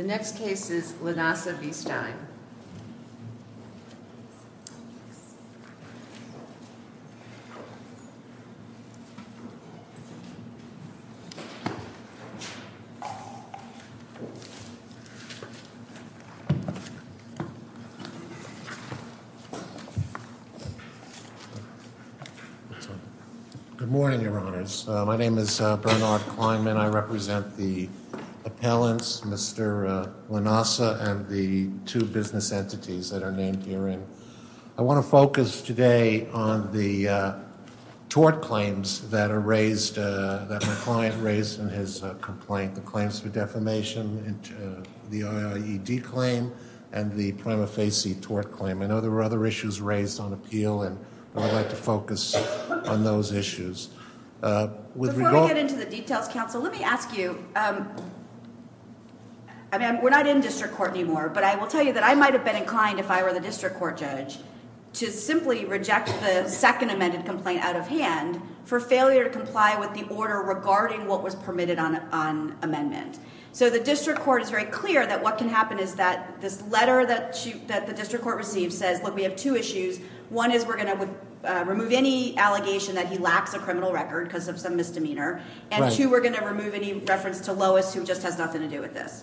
The next case is Lanasa v. Stiene. Good morning, Your Honors. My name is Bernard Kleinman. I represent the appellants, Mr. Lanasa and the two business entities that are named herein. I want to focus today on the tort claims that are raised, that my client raised in his complaint, the claims for defamation, the OIED claim and the prima facie tort claim. I know there were other issues raised on appeal and I'd like to focus on those issues. Before we get into the details, counsel, let me ask you, I mean, we're not in district court anymore, but I will tell you that I might have been inclined, if I were the district court judge, to simply reject the second amended complaint out of hand for failure to comply with the order regarding what was permitted on amendment. So the district court is very clear that what can happen is that this letter that the district court received says, we have two issues. One is we're going to remove any allegation that he lacks a criminal record because of some misdemeanor. And two, we're going to remove any reference to Lois, who just has nothing to do with this.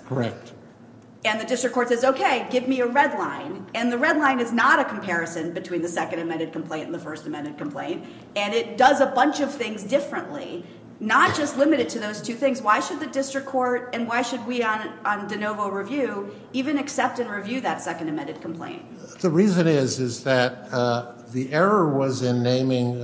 And the district court says, okay, give me a red line. And the red line is not a comparison between the second amended complaint and the first amended complaint. And it does a bunch of things differently, not just limited to those two things. Why should the district court and why should we on de novo review even accept and review that second amended complaint? The reason is, is that the error was in naming,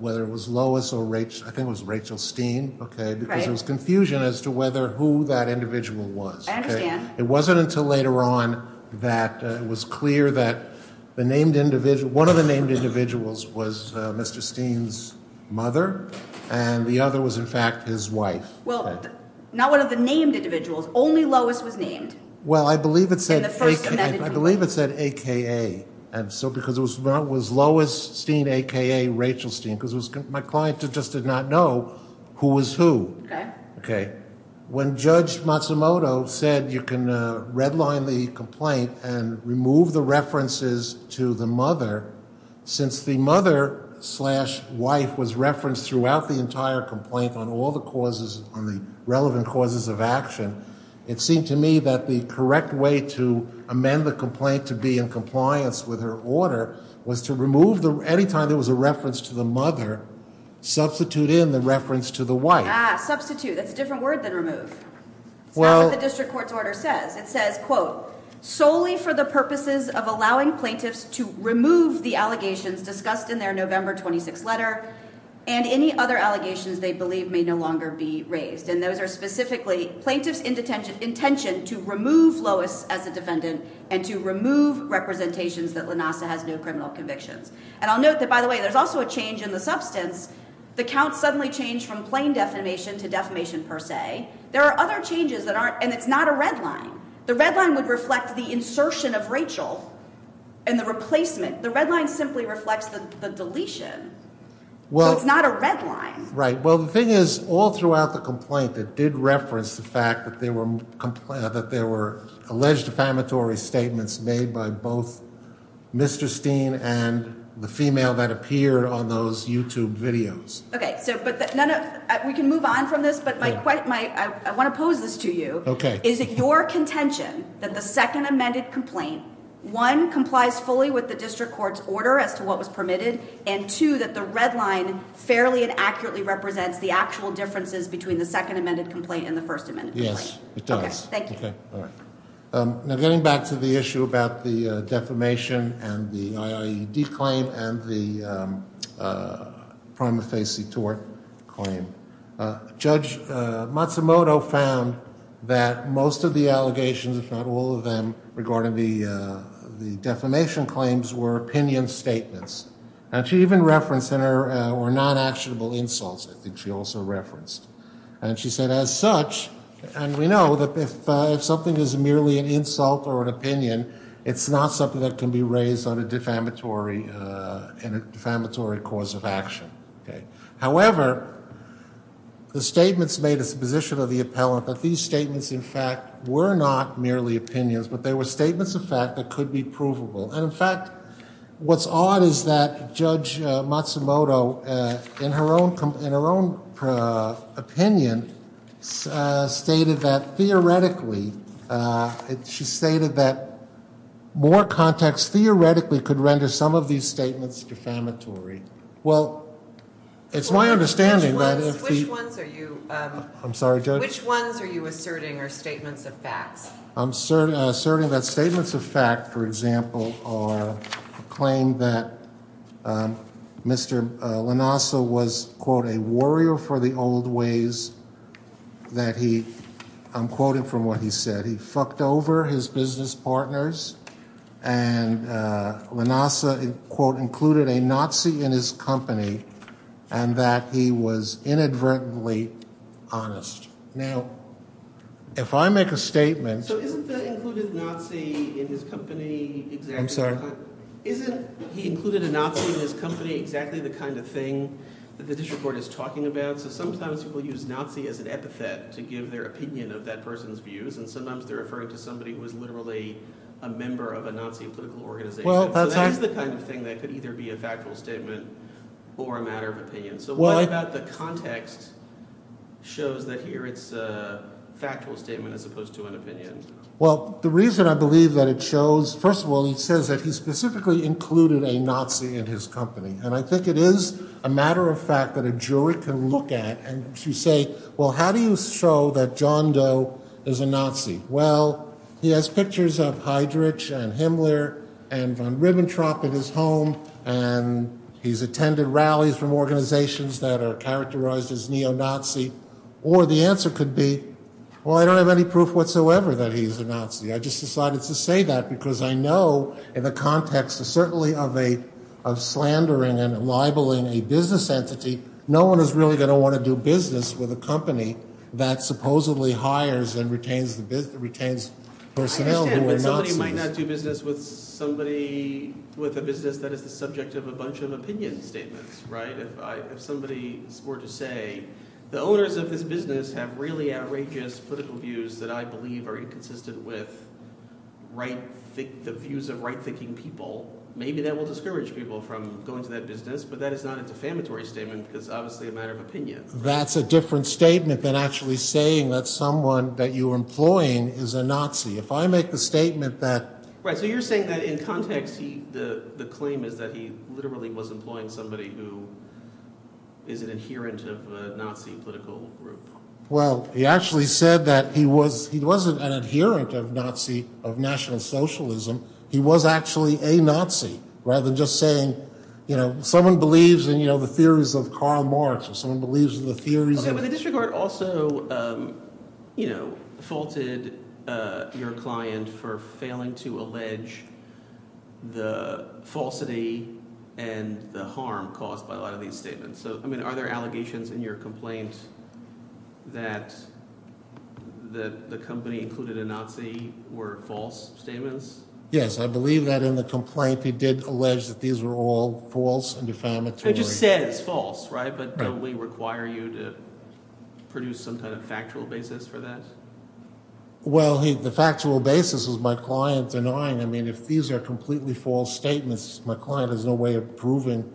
whether it was Lois or Rachel, I think it was Rachel Steen, because there was confusion as to whether who that individual was. I understand. It wasn't until later on that it was clear that the named individual, one of the named individuals was Mr. Steen's mother and the other was in fact his wife. Well, not one of the named individuals, only Lois was named. Well, I believe it said, I believe it said, AKA. And so, because it was Lois Steen, AKA Rachel Steen, because my client just did not know who was who. Okay. When Judge Matsumoto said you can red line the complaint and remove the references to the mother, since the mother slash wife was referenced throughout the entire complaint on all the causes, on the relevant causes of action, it seemed to me that the correct way to amend the complaint to be in compliance with her order was to remove the, anytime there was a reference to the mother, substitute in the reference to the wife. Ah, substitute. That's a different word than remove. It's not what the district court's order says. It says, quote, solely for the purposes of allowing plaintiffs to remove the allegations discussed in their November 26th letter and any other allegations they believe may no longer be raised. And those are specifically plaintiffs in detention, intention to remove Lois as a defendant and to remove representations that Lanasa has no criminal convictions. And I'll note that by the way, there's also a change in the substance. The count suddenly changed from plain defamation to defamation per se. There are other changes that aren't, and it's not a red line. The red line would reflect the insertion of Rachel and the replacement. The red line simply reflects the deletion. Well, it's not a red line. Right. Well, the thing is, all throughout the complaint, it did reference the fact that there were alleged defamatory statements made by both Mr. Steen and the female that appeared on those YouTube videos. Okay. So, but none of, we can move on from this, but my, I want to pose this to you. Okay. Is it your contention that the second amended complaint, one complies fully with the district court's order as to what was permitted and two, that the red line fairly and accurately represents the actual differences between the second amended complaint and the first amendment? Yes, it does. Okay. Thank you. Now getting back to the issue about the defamation and the IAED claim and the prima facie tort claim, Judge Matsumoto found that most of the allegations, if not all of them, regarding the defamation claims were opinion statements. And she even referenced in her, were non-actionable insults, I think she also referenced. And she said, as such, and we know that if something is merely an insult or an opinion, it's not something that can be raised on a defamatory, a defamatory cause of action. Okay. However, the statements made a supposition of the appellant that these statements in fact were not merely opinions, but they were statements of fact that could be provable. And in fact, what's odd is that Judge Matsumoto in her own, in her own opinion, stated that theoretically, she stated that more context theoretically could render some of these statements defamatory. Well, it's my understanding that if the- Which ones are you- I'm sorry, Judge? Which ones are you asserting are statements of facts? I'm asserting that statements of fact, for example, are a claim that Mr. Lanassa was, quote, a warrior for the old ways that he, I'm quoting from what he said, he fucked over his business partners, and Lanassa, quote, included a Nazi in his company, and that he was inadvertently honest. Now, if I make a statement- So, isn't the included Nazi in his company- I'm sorry? Isn't he included a Nazi in his company exactly the kind of thing that the district court is talking about? So, sometimes people use Nazi as an epithet to give their opinion of that person's views, and sometimes they're referring to somebody who is literally a member of a Nazi political organization. Well- So, that is the kind of thing that could either be a factual statement or a matter of opinion. So, what about the context shows that here it's a factual statement as opposed to an opinion? Well, the reason I believe that it shows, first of all, he says that he specifically included a Nazi in his company, and I think it is a matter of fact that a jury can look at and say, well, how do you show that John Doe is a Nazi? Well, he has pictures of Heydrich and Himmler and von Ribbentrop in his and he's attended rallies from organizations that are characterized as neo-Nazi, or the answer could be, well, I don't have any proof whatsoever that he's a Nazi. I just decided to say that because I know in the context of certainly of a- of slandering and libeling a business entity, no one is really going to want to do business with a company that supposedly hires and retains the business- retains personnel who are Nazis. I understand, but somebody might not do business with somebody- with a business that is the subject of a bunch of opinion statements, right? If I- if somebody were to say, the owners of this business have really outrageous political views that I believe are inconsistent with right- the views of right-thinking people, maybe that will discourage people from going to that business, but that is not a defamatory statement because obviously a matter of opinion. That's a different statement than actually saying that someone that you're employing is a Nazi. If I make the statement that- Right, so you're saying that in context he- the- the claim is that he literally was employing somebody who is an adherent of a Nazi political group. Well, he actually said that he was- he wasn't an adherent of Nazi- of National Socialism. He was actually a Nazi, rather than just saying, you know, someone believes in, you know, the theories of Karl Marx, or someone believes in the theories of- But the district court also, you know, faulted your client for failing to allege the falsity and the harm caused by a lot of these statements. So, I mean, are there allegations in your complaint that the company included a Nazi were false statements? Yes, I believe that in the complaint he did allege that these were all false and defamatory. Which is to say it's false, right? But don't we require you to produce some kind of factual basis for that? Well, the factual basis is my client denying- I mean, if these are completely false statements, my client has no way of proving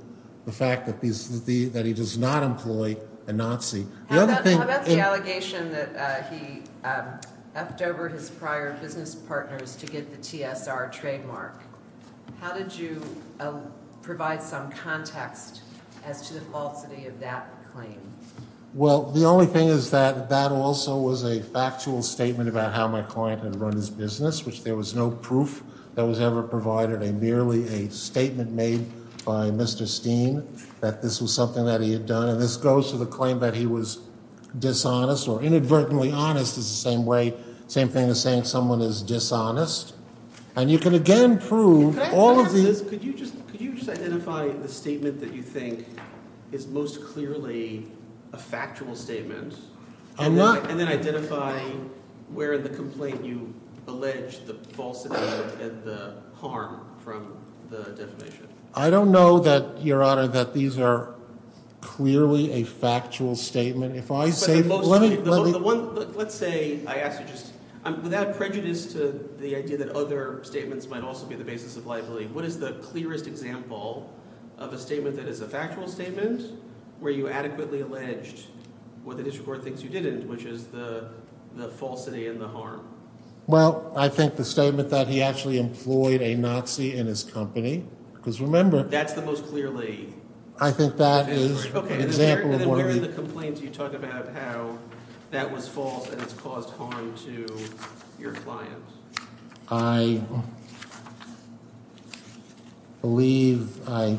the fact that he's- that he does not employ a Nazi. How about the allegation that he f'd over his prior business partners to get the TSR trademark? How did you provide some context as to the falsity of that claim? Well, the only thing is that that also was a factual statement about how my client had run his business, which there was no proof that was ever provided. Merely a statement made by Mr. Steen that this was something that he had done. And this goes to the claim that he was dishonest, or inadvertently honest is the same way, same thing as saying someone is dishonest. And you can again prove all of these- Could you just- could you just identify the statement that you think is most clearly a factual statement? And then identify where in the complaint you alleged the falsity and the harm from the defamation. I don't know that, Your Honor, that these are clearly a factual statement. If I say- The one- let's say I asked you just- I'm without prejudice to the idea that other statements might also be the basis of liability. What is the clearest example of a statement that is a factual statement where you adequately alleged what the district court thinks you didn't, which is the falsity and the harm? Well, I think the statement that he actually employed a Nazi in his company, because remember- That's the most clearly- I think that is an example of one of the- Where in the complaint do you talk about how that was false and it's caused harm to your client? I believe I-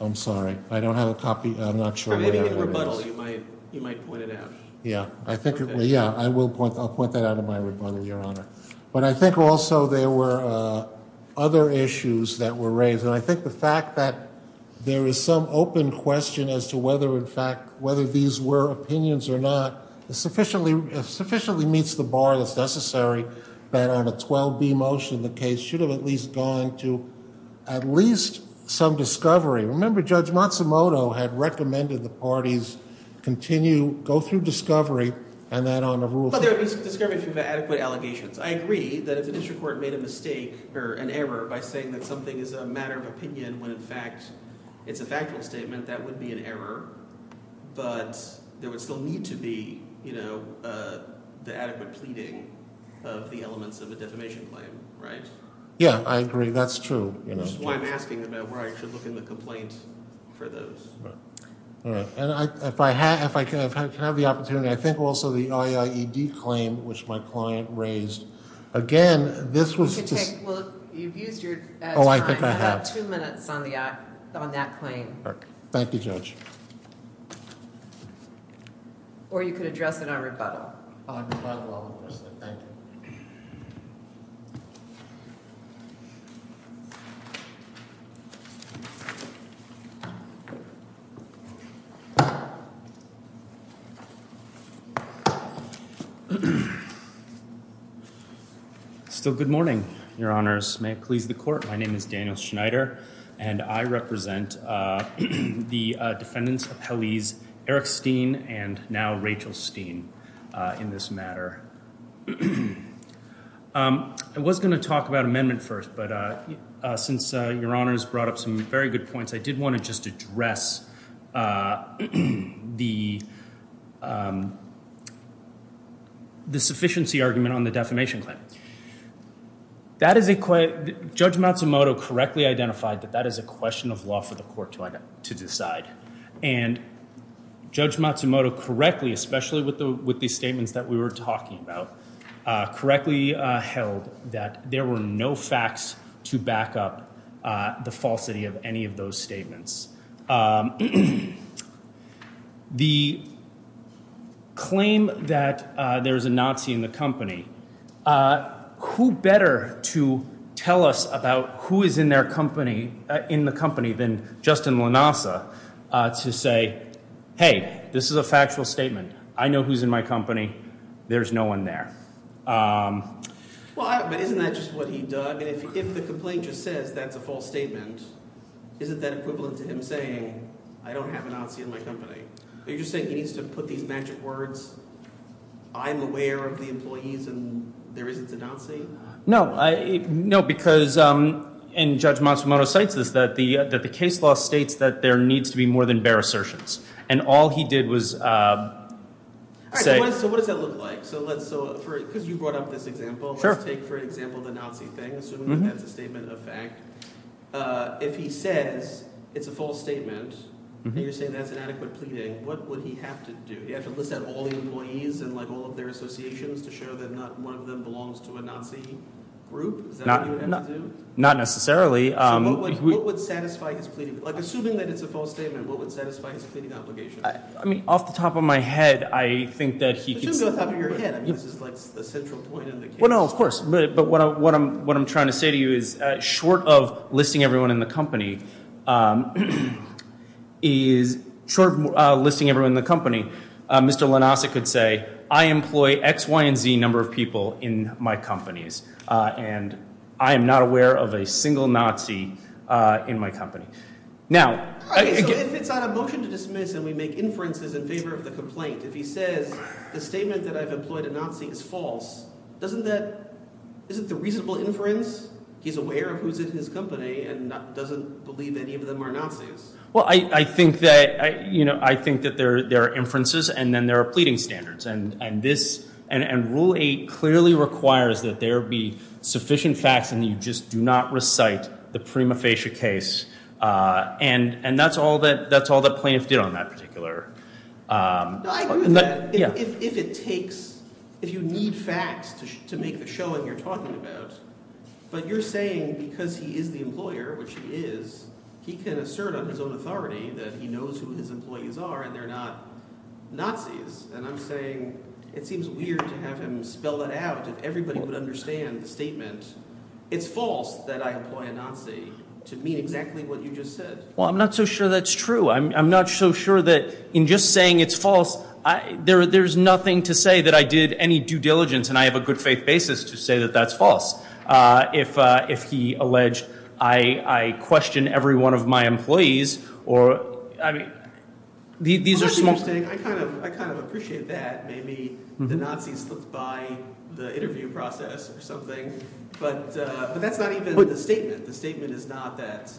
I'm sorry, I don't have a copy. I'm not sure what it is. Maybe in a rebuttal you might- you might point it out. Yeah, I think- yeah, I will point- I'll point that out in my rebuttal, Your Honor. But I think also there were other issues that were raised. And I think the fact that there is some open question as to whether, in fact, whether these were opinions or not, sufficiently- sufficiently meets the bar that's necessary that on a 12B motion, the case should have at least gone to at least some discovery. Remember, Judge Matsumoto had recommended the parties continue- go through discovery and that on a rule- But there was discovery through adequate allegations. I agree that if the district made a mistake or an error by saying that something is a matter of opinion when, in fact, it's a factual statement, that would be an error. But there would still need to be, you know, the adequate pleading of the elements of a defamation claim, right? Yeah, I agree. That's true. Which is why I'm asking about where I should look in the complaint for those. All right. And if I have- if I can have the opportunity, I think also the IIED claim, which my client raised. Again, this was- You can take- well, you've used your time. Oh, I think I have. I've got two minutes on the act- on that claim. Okay. Thank you, Judge. Or you could address it on rebuttal. On rebuttal, I'll address it. Thank you. Still, good morning, Your Honors. May it please the Court, my name is Daniel Schneider, and I represent the defendants of Hallease, Eric Steen and now Rachel Steen, in this matter. I was going to talk about amendment first, but since Your Honors brought up some very good I did want to just address the sufficiency argument on the defamation claim. That is a- Judge Matsumoto correctly identified that that is a question of law for the Court to decide. And Judge Matsumoto correctly, especially with the statements that we were talking about, correctly held that there were no facts to back up the falsity of any of those statements. The claim that there's a Nazi in the company, who better to tell us about who is in their company, in the company, than Justin Lanasa to say, hey, this is a factual statement. I know who's in my company. There's no one there. But isn't that just what he does? If the complaint just says that's a false statement, isn't that equivalent to him saying, I don't have a Nazi in my company? Are you just saying he needs to put these magic words, I'm aware of the employees and there is a Nazi? No. No, because, and Judge Matsumoto cites this, that the case law states that there needs to be more than bare assertions. And all he did was say- All right, so what does that look like? So let's, so for, because you brought up this example, let's take for example, the Nazi thing, assuming that's a statement of fact. If he says it's a false statement, and you're saying that's an adequate pleading, what would he have to do? He has to list out all the employees and like all of their associations to show that not one of them belongs to a Nazi group? Is that what he would have to do? Not necessarily. So what would satisfy his pleading? Like assuming that it's a false statement, what would satisfy his pleading obligation? I mean, off the top of my head, I think that he- This is off the top of your head. I mean, this is like the central point of the case. Well, no, of course. But what I'm, what I'm trying to say to you is, short of listing everyone in the company, is short of listing everyone in the company, Mr. Lanasek could say, I employ X, Y, and Z number of people in my companies. And I am not aware of a single Nazi in my company. Now, if it's not a motion to dismiss and we make inferences in favor of the complaint, if he says the statement that I've employed a Nazi is false, doesn't that, isn't the reasonable inference, he's aware of who's in his company and doesn't believe any of them are Nazis? Well, I think that, you know, I think that there are inferences and then there are pleading standards. And this, and rule eight clearly requires that there be sufficient facts and you just do not recite the prima facie case. And, and that's all that, that's all the plaintiff did on that particular- I agree with that. If it takes, if you need facts to make the showing you're talking about, but you're saying because he is the employer, which he is, he can assert on his own authority that he knows who his employees are and they're not Nazis. And I'm saying, it seems weird to have him spell that out. If everybody would understand the statement, it's false that I employ a Nazi to mean exactly what you just said. Well, I'm not so sure that's true. I'm, I'm not so sure that in just saying it's false, I, there, there's nothing to say that I did any due diligence and I have a good faith basis to say that that's false. If, if he alleged I, I question every one of my employees or, I mean, these are- I kind of, I kind of appreciate that. Maybe the Nazis slipped by the interview process or something, but, but that's not even the statement. The statement is not that-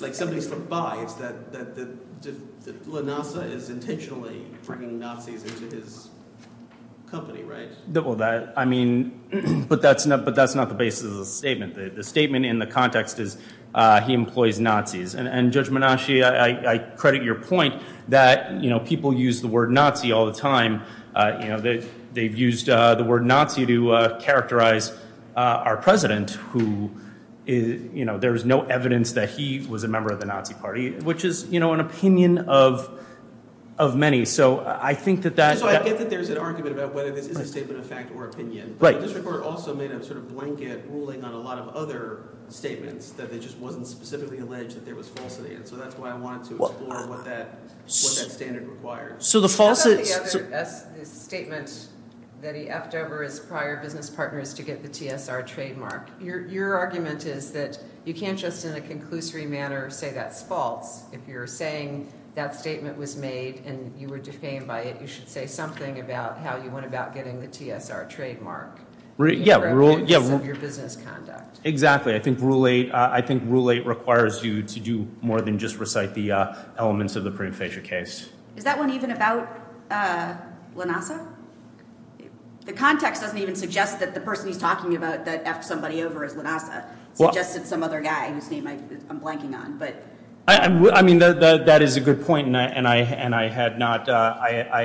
Like somebody slipped by. It's that, that, that Lanasa is intentionally bringing Nazis into his company, right? Well, that, I mean, but that's not, but that's not the basis of the statement. The statement in the context is he employs Nazis and, and Judge Menashe, I, I credit your point that, you know, people use the word Nazi all the time. You know, they, they've used the word Nazi to characterize our president who is, you know, there's no evidence that he was a member of the Nazi party, which is, you know, an opinion of, of many. So I think that that- So I get that there's an argument about whether this is a statement of fact or opinion. Right. But the district court also made a sort of blanket ruling on a lot of other statements that they just wasn't specifically alleged that there was falsity. And so that's why I wanted to explore what that, what that standard requires. So the false- How about the other, the statement that he F'd over his prior business partners to get the TSR trademark? Your, your argument is that you can't just in a conclusory manner say that's false. If you're saying that statement was made and you were defamed by it, you should say something about how you went about getting the TSR trademark. Yeah, rule- In reference of your business conduct. Exactly. I think rule eight, I think rule eight requires you to do more than just recite the elements of the prudent fascia case. Is that one even about Lanasa? The context doesn't even suggest that the person he's talking about that F'd somebody over is Lanasa. It suggested some other guy whose name I'm blanking on, but- I mean, that is a good point. And I, and I had not, I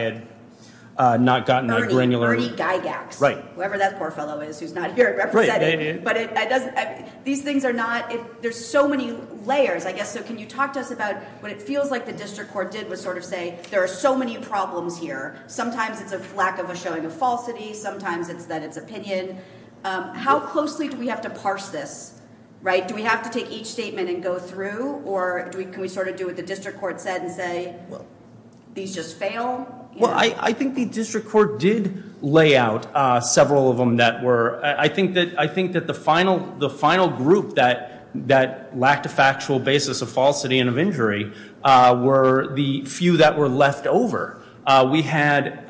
had not gotten a granular- Ernie, Ernie Gygax. Right. Ernie Gygax, whoever that poor fellow is, who's not here representing, but it doesn't, these things are not, there's so many layers, I guess. So can you talk to us about what it feels like the district court did was sort of say, there are so many problems here. Sometimes it's a lack of a showing of falsity. Sometimes it's that it's opinion. How closely do we have to parse this, right? Do we have to take each statement and go through, or do we, can we sort of do what the district court said and say, well, these just fail? Well, I, I think the district court did lay out several of them that were, I think that, I think that the final, the final group that, that lacked a factual basis of falsity and of injury were the few that were left over. We had,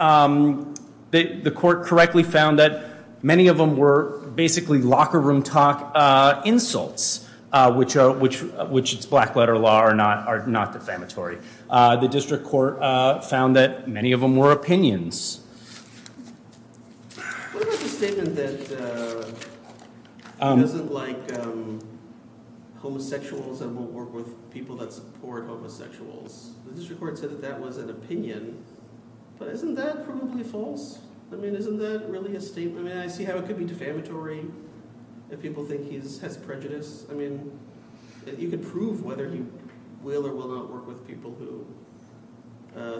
the court correctly found that many of them were basically locker room talk insults, which are, which, which it's black letter law are not, defamatory. The district court found that many of them were opinions. What about the statement that he doesn't like homosexuals and won't work with people that support homosexuals? The district court said that that was an opinion, but isn't that probably false? I mean, isn't that really a statement? I mean, I see how it could be defamatory if people think he's has prejudice. I mean, you could prove whether he will or will not work with people who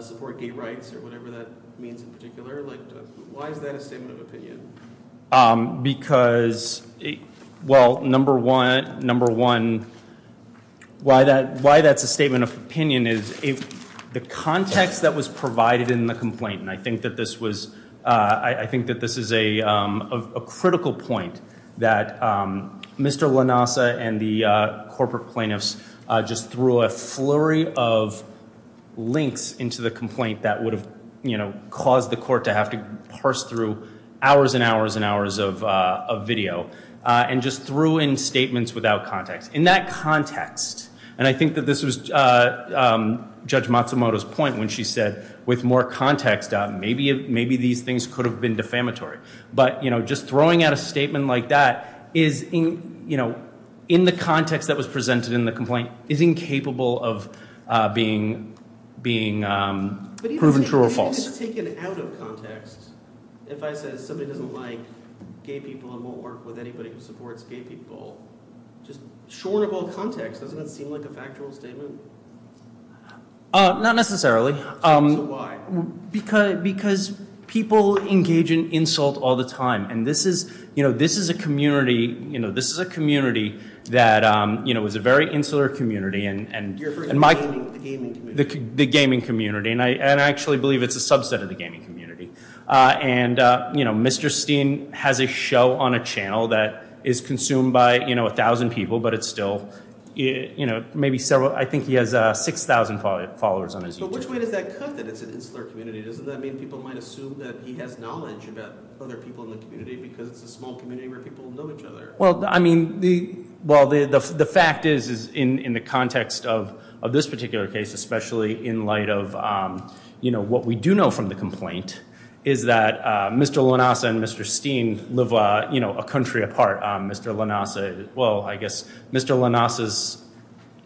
support gay rights or whatever that means in particular. Like, why is that a statement of opinion? Because, well, number one, number one, why that, why that's a statement of opinion is the context that was provided in the complaint. And I think that this was, I think that this is a, a critical point that Mr. Lanasa and the corporate plaintiffs just threw a flurry of links into the complaint that would have, you know, caused the court to have to parse through hours and hours and hours of video and just threw in statements without context. In that context, and I think that this was Judge Matsumoto's point when she said with more context, maybe, maybe these things could have been defamatory. But, you know, just throwing out a statement like that is in, you know, in the context that was presented in the complaint is incapable of being, being proven true or false. But even if it's taken out of context, if I said somebody doesn't like gay people and won't work with anybody who supports gay people, just shorn of all context, doesn't that seem like a factual statement? Uh, not necessarily. So why? Because people engage in insult all the time. And this is, you know, this is a community, you know, this is a community that, you know, is a very insular community. You're referring to the gaming community. The gaming community. And I actually believe it's a subset of the gaming community. And, you know, Mr. Steen has a show on a channel that is consumed by, you know, he has 6,000 followers on his YouTube. But which way does that cut that it's an insular community? Doesn't that mean people might assume that he has knowledge about other people in the community because it's a small community where people know each other? Well, I mean, the, well, the, the, the fact is, is in, in the context of, of this particular case, especially in light of, um, you know, what we do know from the complaint is that, uh, Mr. Lanassa and Mr. Steen live, uh, you know, a country apart. Um, Mr. Lanassa, well, I guess Mr. Lanassa's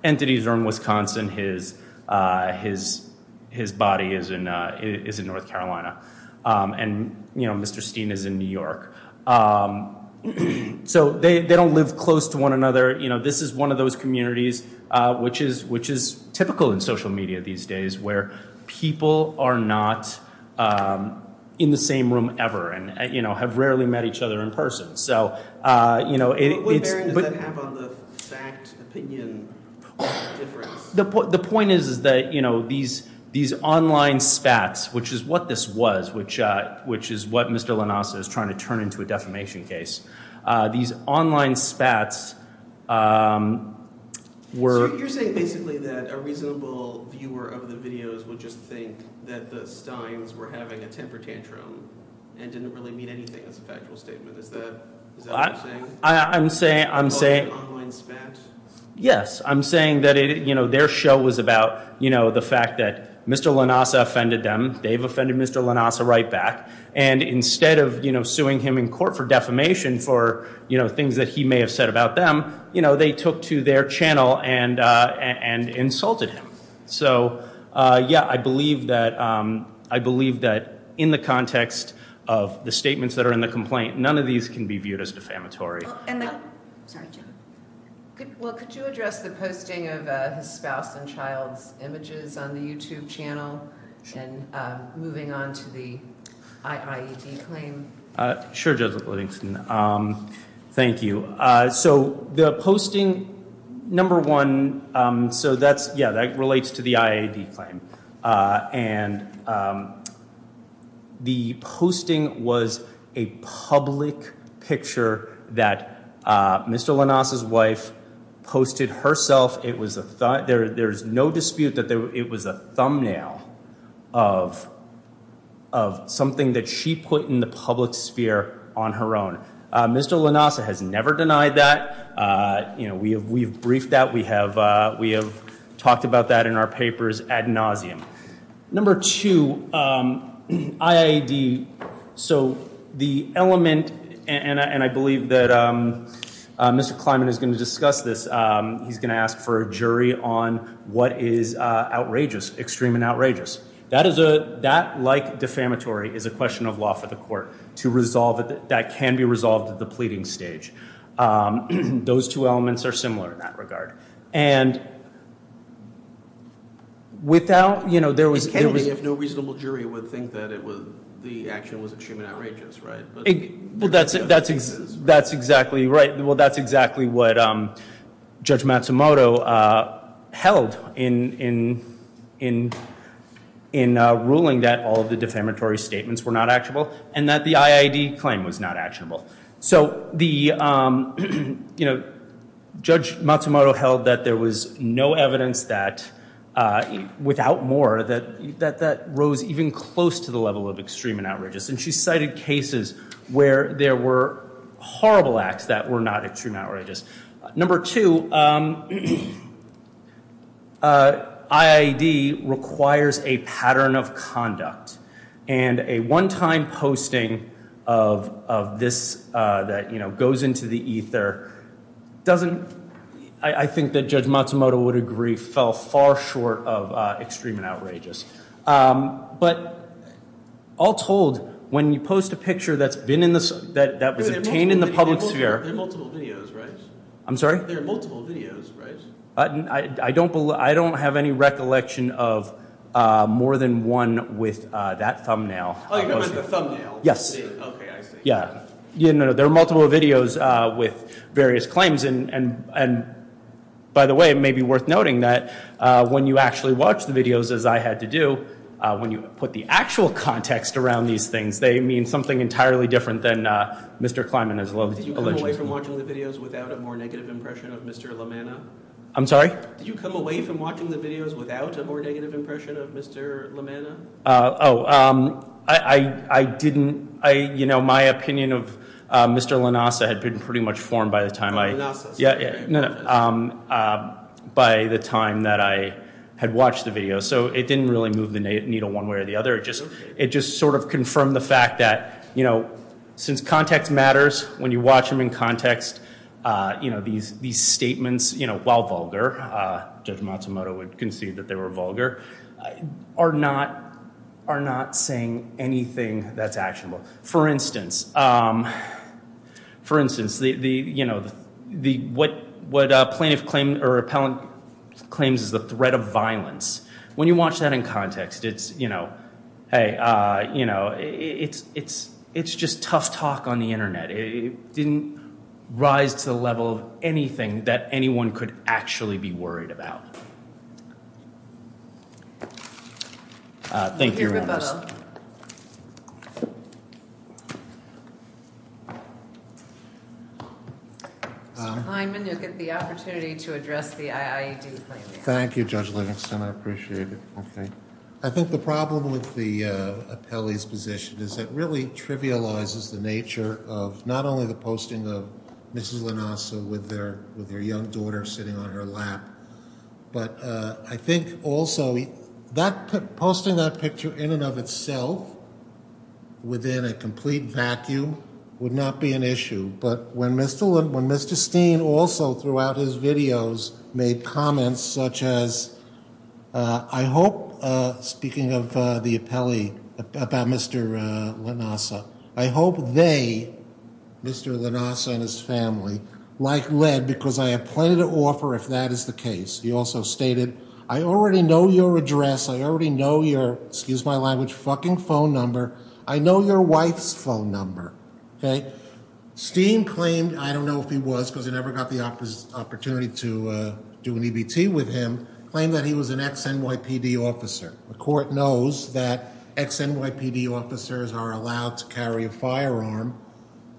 entities are in Wisconsin. His, uh, his, his body is in, uh, is in North Carolina. Um, and, you know, Mr. Steen is in New York. Um, so they, they don't live close to one another. You know, this is one of those communities, uh, which is, which is typical in social media these days where people are not, um, in the same room ever and, you know, have rarely met each other in person. So, uh, you know, it's, but the point is, is that, you know, these, these online spats, which is what this was, which, uh, which is what Mr. Lanassa is trying to turn into a defamation case. Uh, these online spats, um, were, you're saying basically that a reasonable viewer of the videos would just think that the Steens were having a temper tantrum and didn't really mean anything as a factual statement. Is that, is that what you're saying? I'm saying, I'm saying, yes, I'm saying that it, you know, their show was about, you know, the fact that Mr. Lanassa offended them. They've offended Mr. Lanassa right back. And instead of, you know, suing him in court for defamation for, you know, things that he may have said about them, you know, they took to their channel and, uh, and insulted him. So, uh, yeah, I believe that, um, I believe that in the context of the statements that are in the complaint, none of these can be viewed as defamatory. Well, could you address the posting of his spouse and child's images on the YouTube channel and, um, moving on to the IIED claim? Uh, sure, Judge Livingston. Um, thank you. So the posting, number one, um, so that's, yeah, that relates to the IIED claim. Uh, and, um, the posting was a public picture that, uh, Mr. Lanassa's wife posted herself. It was a, there, there's no dispute that it was a thumbnail of, of something that she put in the public sphere on her own. Uh, Mr. Lanassa has never denied that. Uh, you know, we have, we've briefed that we have, uh, we have talked about that in our papers ad nauseum. Number two, um, IIED. So the element, and I, and I believe that, um, uh, Mr. Kleinman is going to discuss this. Um, he's going to ask for a jury on what is, uh, outrageous, extreme and outrageous. That is a, that like defamatory is a question of law for the court to resolve it. That can be resolved at the pleading stage. Um, those two elements are similar in that regard. And without, you know, there was, there was, if no reasonable jury would think that it was, the action was extremely outrageous, right? Well, that's, that's, that's exactly right. Well, that's exactly what, um, Judge Matsumoto, uh, held in, in, in, in, uh, ruling that all of the defamatory statements were not actionable and that the IIED claim was not actionable. So the, um, you know, Judge Matsumoto held that there was no evidence that, uh, without more that, that, that rose even close to the level of extreme and outrageous. And she cited cases where there were horrible acts that were not extremely outrageous. Number two, um, uh, IIED requires a pattern of conduct and a one-time posting of, of this, uh, that, you know, goes into the ether doesn't, I think that Judge Matsumoto would agree fell far short of, uh, extreme and outrageous. Um, but all told when you post a picture that's been in the, that, that was obtained in the public There are multiple videos, right? I'm sorry? There are multiple videos, right? I don't, I don't have any recollection of, uh, more than one with, uh, that thumbnail. Oh, you mean the thumbnail? Yes. Yeah. You know, there are multiple videos, uh, with various claims and, and, and by the way, it may be worth noting that, uh, when you actually watch the videos as I had to do, uh, when you put the actual context around these things, they mean something entirely different than, uh, Mr. Kleiman has alleged. Did you come away from watching the videos without a more negative impression of Mr. LaManna? I'm sorry? Did you come away from watching the videos without a more negative impression of Mr. LaManna? Uh, oh, um, I, I, I didn't, I, you know, my opinion of, uh, Mr. Lanassa had been pretty much formed by the time I, yeah, yeah, no, um, uh, by the time that I had watched the video. So it didn't really move the needle one way or the other. It just, it just sort of confirmed the fact that, you know, since context matters, when you watch them in context, uh, you know, these, these statements, you know, while vulgar, uh, Judge Matsumoto would concede that they were vulgar, are not, are not saying anything that's actionable. For instance, um, for instance, the, the, you know, the, what, what a plaintiff claimed or appellant claims is the threat of violence. When you watch that in context, it's, you know, hey, uh, you know, it's, it's, it's just tough talk on the internet. It didn't rise to the level of anything that anyone could actually be worried about. Thank you. Mr. Kleinman, you'll get the opportunity to address the IIED. Thank you, Judge Livingston. I appreciate it. Okay. I think the problem with the, uh, appellee's position is that really trivializes the nature of not only the posting of Mrs. Lanassa with their, with their young daughter sitting on her lap, but, uh, I think also that posting that picture in and of itself within a complete vacuum would not be an issue. But when Mr., when Mr. Steen also throughout his videos made comments such as, uh, I hope, uh, speaking of, uh, the appellee about Mr. Lanassa, I hope they, Mr. Lanassa and his family, like Led, because I have plenty to offer if that is the case. He also stated, I already know your address. I already know your, excuse my language, fucking phone number. I know your wife's phone number. Okay. Steen claimed, I don't know if he was, cause I never got the opportunity to, uh, do an EBT with him, claimed that he was an ex-NYPD officer. The court knows that ex-NYPD officers are allowed to carry a firearm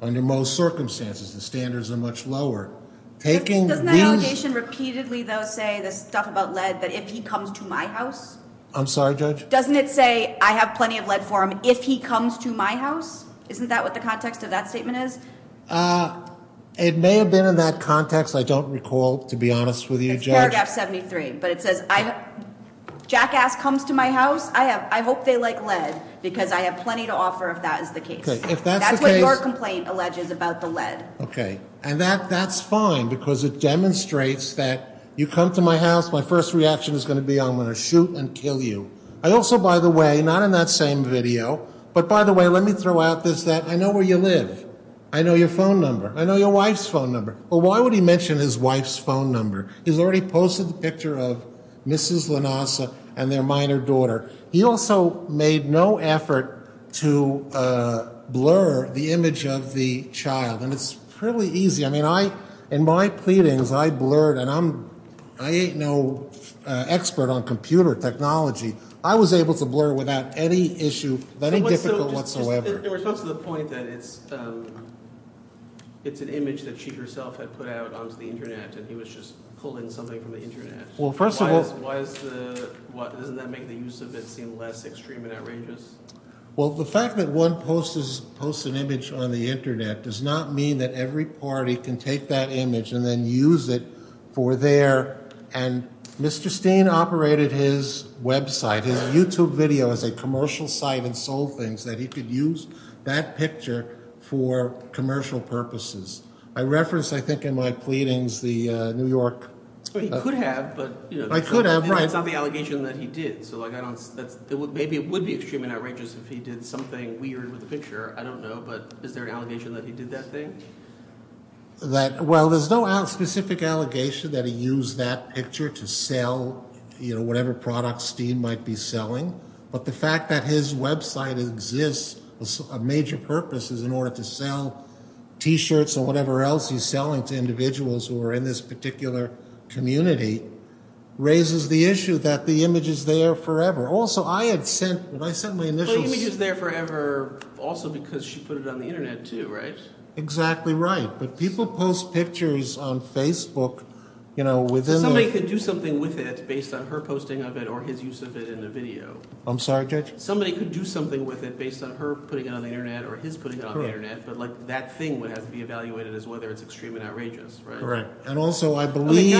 under most circumstances. The standards are much lower. Taking these... Doesn't the allegation repeatedly though, say the stuff about Led, that if he comes to my house... I'm sorry, Judge. Doesn't it say I have plenty of Led for him if he comes to my house? Isn't that what the context of that statement is? Uh, it may have been in that context. I don't recall, to be honest with you, Judge. It's paragraph 73, but it says I, Jackass comes to my house. I have, I hope they like Led because I have plenty to offer if that is the it demonstrates that you come to my house, my first reaction is going to be, I'm going to shoot and kill you. I also, by the way, not in that same video, but by the way, let me throw out this, that I know where you live. I know your phone number. I know your wife's phone number. Well, why would he mention his wife's phone number? He's already posted the picture of Mrs. Lanasa and their minor daughter. He also made no effort to, uh, blur the image of the child. And it's fairly easy. I mean, I, in my pleadings, I blurred and I'm, I ain't no expert on computer technology. I was able to blur it without any issue. That ain't difficult whatsoever. In response to the point that it's, um, it's an image that she herself had put out onto the internet and he was just pulling something from the internet. Well, first of all, why is the, why doesn't that make the use of it seem less extreme and outrageous? Well, the fact that one post is post an image on the internet does not mean that every party can take that image and then use it for their, and Mr. Steen operated his website, his YouTube video as a commercial site and sold things that he could use that picture for commercial purposes. I referenced, I think in my pleadings, the, uh, New York. He could have, but it's not the allegation that he did. So like, I don't, that's, maybe it would be extremely outrageous if he did something weird with the picture. I don't know, but is there an allegation that he did that thing? That, well, there's no specific allegation that he used that picture to sell, you know, whatever products Steen might be selling, but the fact that his website exists, a major purpose is in order to sell t-shirts or whatever else he's selling to individuals who are in this particular community, raises the issue that the image is forever. Also, I had sent, when I sent my initials. Well, the image is there forever also because she put it on the internet too, right? Exactly right. But people post pictures on Facebook, you know, within the. Somebody could do something with it based on her posting of it or his use of it in a video. I'm sorry, Judge? Somebody could do something with it based on her putting it on the internet or his putting it on the internet, but like that thing would have to be evaluated as whether it's extremely outrageous, right? Correct. And also I believe.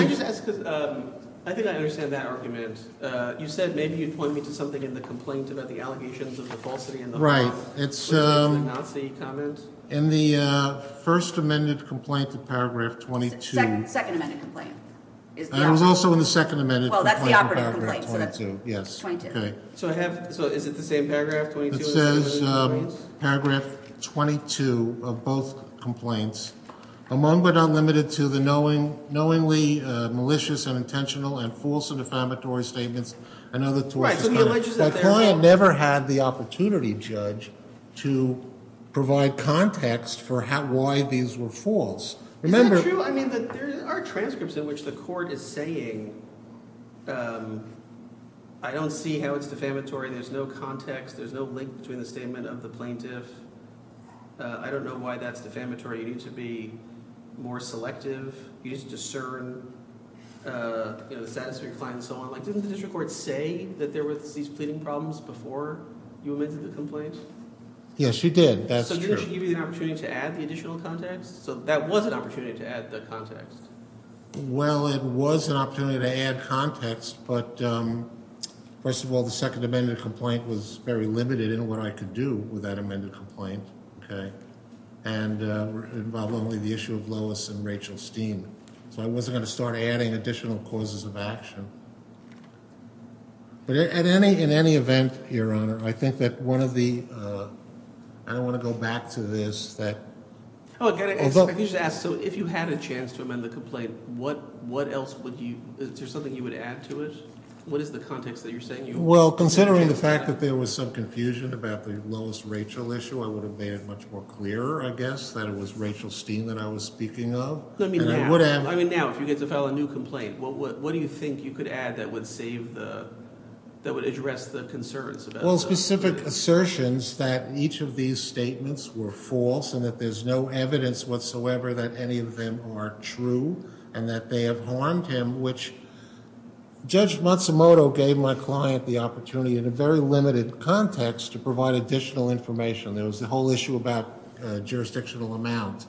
Um, I think I understand that argument. Uh, you said maybe you'd point me to something in the complaint about the allegations of the falsity in the. Right. It's, um, Nazi comment in the, uh, first amended complaint to paragraph 22. Second amendment complaint is also in the second amendment. Well, that's the operative complaint. Yes. So I have, so is it the same paragraph? It says, um, paragraph 22 of both complaints among, but not limited to the knowing knowingly, uh, malicious and intentional and false and defamatory statements. I know the client never had the opportunity judge to provide context for how, why these were false. Remember our transcripts in which the court is saying, um, I don't see how it's defamatory. There's no context. There's no link between the statement of the plaintiff. Uh, I don't discern, uh, you know, the status of your client and so on. Like didn't the district court say that there was these pleading problems before you amended the complaint? Yes, she did. That's true. So didn't she give you the opportunity to add the additional context? So that was an opportunity to add the context. Well, it was an opportunity to add context, but, um, first of all, the second amended complaint was very limited in what I could do with that Rachel Steen. So I wasn't going to start adding additional causes of action, but at any, in any event, your honor, I think that one of the, uh, I don't want to go back to this, that. Oh, again, I just ask. So if you had a chance to amend the complaint, what, what else would you, is there something you would add to it? What is the context that you're saying? Well, considering the fact that there was some confusion about the lowest Rachel issue, I would have made it much more clear, I guess, that it was Rachel Steen that I was speaking of. I mean, now, if you get to file a new complaint, what, what, what do you think you could add that would save the, that would address the concerns? Well, specific assertions that each of these statements were false and that there's no evidence whatsoever that any of them are true and that they have harmed him, which Judge Matsumoto gave my client the opportunity in a very limited context to provide additional information. There was the whole issue about jurisdictional amount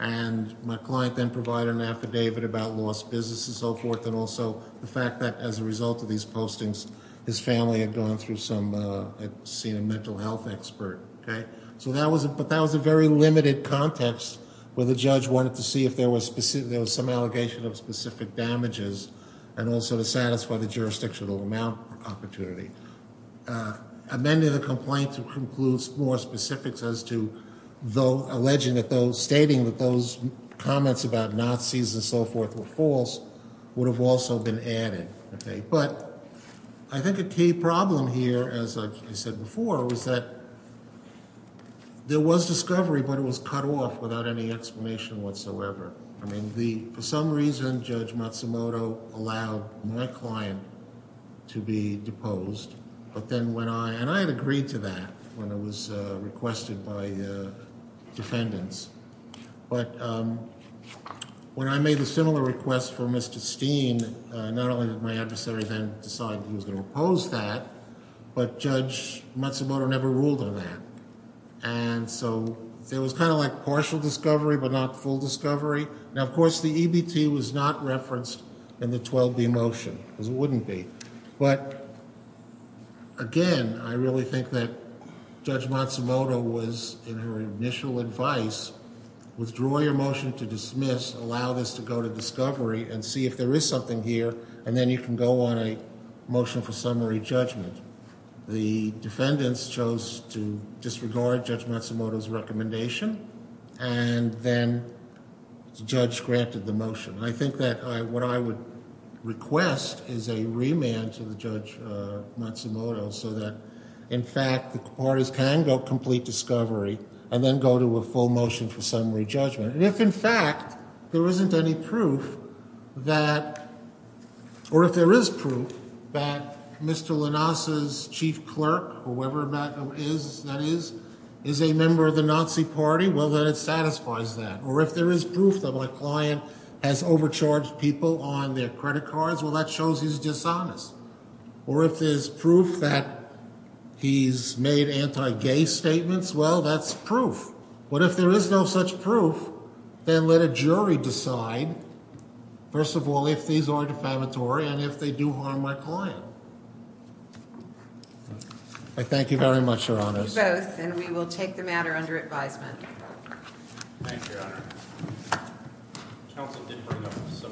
and my client then provided an affidavit about lost business and so forth. And also the fact that as a result of these postings, his family had gone through some, uh, had seen a mental health expert. Okay. So that was, but that was a very limited context where the judge wanted to see if there was specific, there was some allegation of specific damages and also to satisfy the jurisdictional amount opportunity. Uh, amending the complaint to conclude more specifics as to though alleging that those stating that those comments about Nazis and so forth were false would have also been added. Okay. But I think a key problem here, as I said before, was that there was discovery, but it was cut off without any explanation whatsoever. I mean, the, for some reason, Judge Matsumoto allowed my client to be deposed. But then when I, and I had agreed to that when it was requested by the defendants. But, um, when I made a similar request for Mr. Steen, not only did my adversary then decide he was going to oppose that, but Judge Matsumoto never ruled on that. And so there was kind of like partial discovery, but not full discovery. Now, of course, the EBT was not referenced in the 12B motion because it wouldn't be. But again, I really think that Judge Matsumoto was in her initial advice, withdraw your motion to dismiss, allow this to go to discovery and see if there is something here. And then you can go on a motion for summary judgment. The defendants chose to disregard Judge Matsumoto's recommendation. And then the judge granted the motion. I think that I, what I would request is a remand to the Judge Matsumoto so that in fact, the parties can go complete discovery and then go to a full motion for summary judgment. And if in fact, there isn't any proof that, or if there is proof that Mr. Lanassa's chief clerk, whoever that is, is a member of the Nazi party, well, then it satisfies that. Or if there is proof that my client has overcharged people on their credit cards, well, that shows he's dishonest. Or if there's proof that he's made anti-gay statements, well, that's proof. But if there is no such proof, then let a jury decide, first of all, if these are defamatory and if they do harm my client. I thank you very much, Your Honors. You both, and we will take the matter under advisement. Thank you, Your Honor.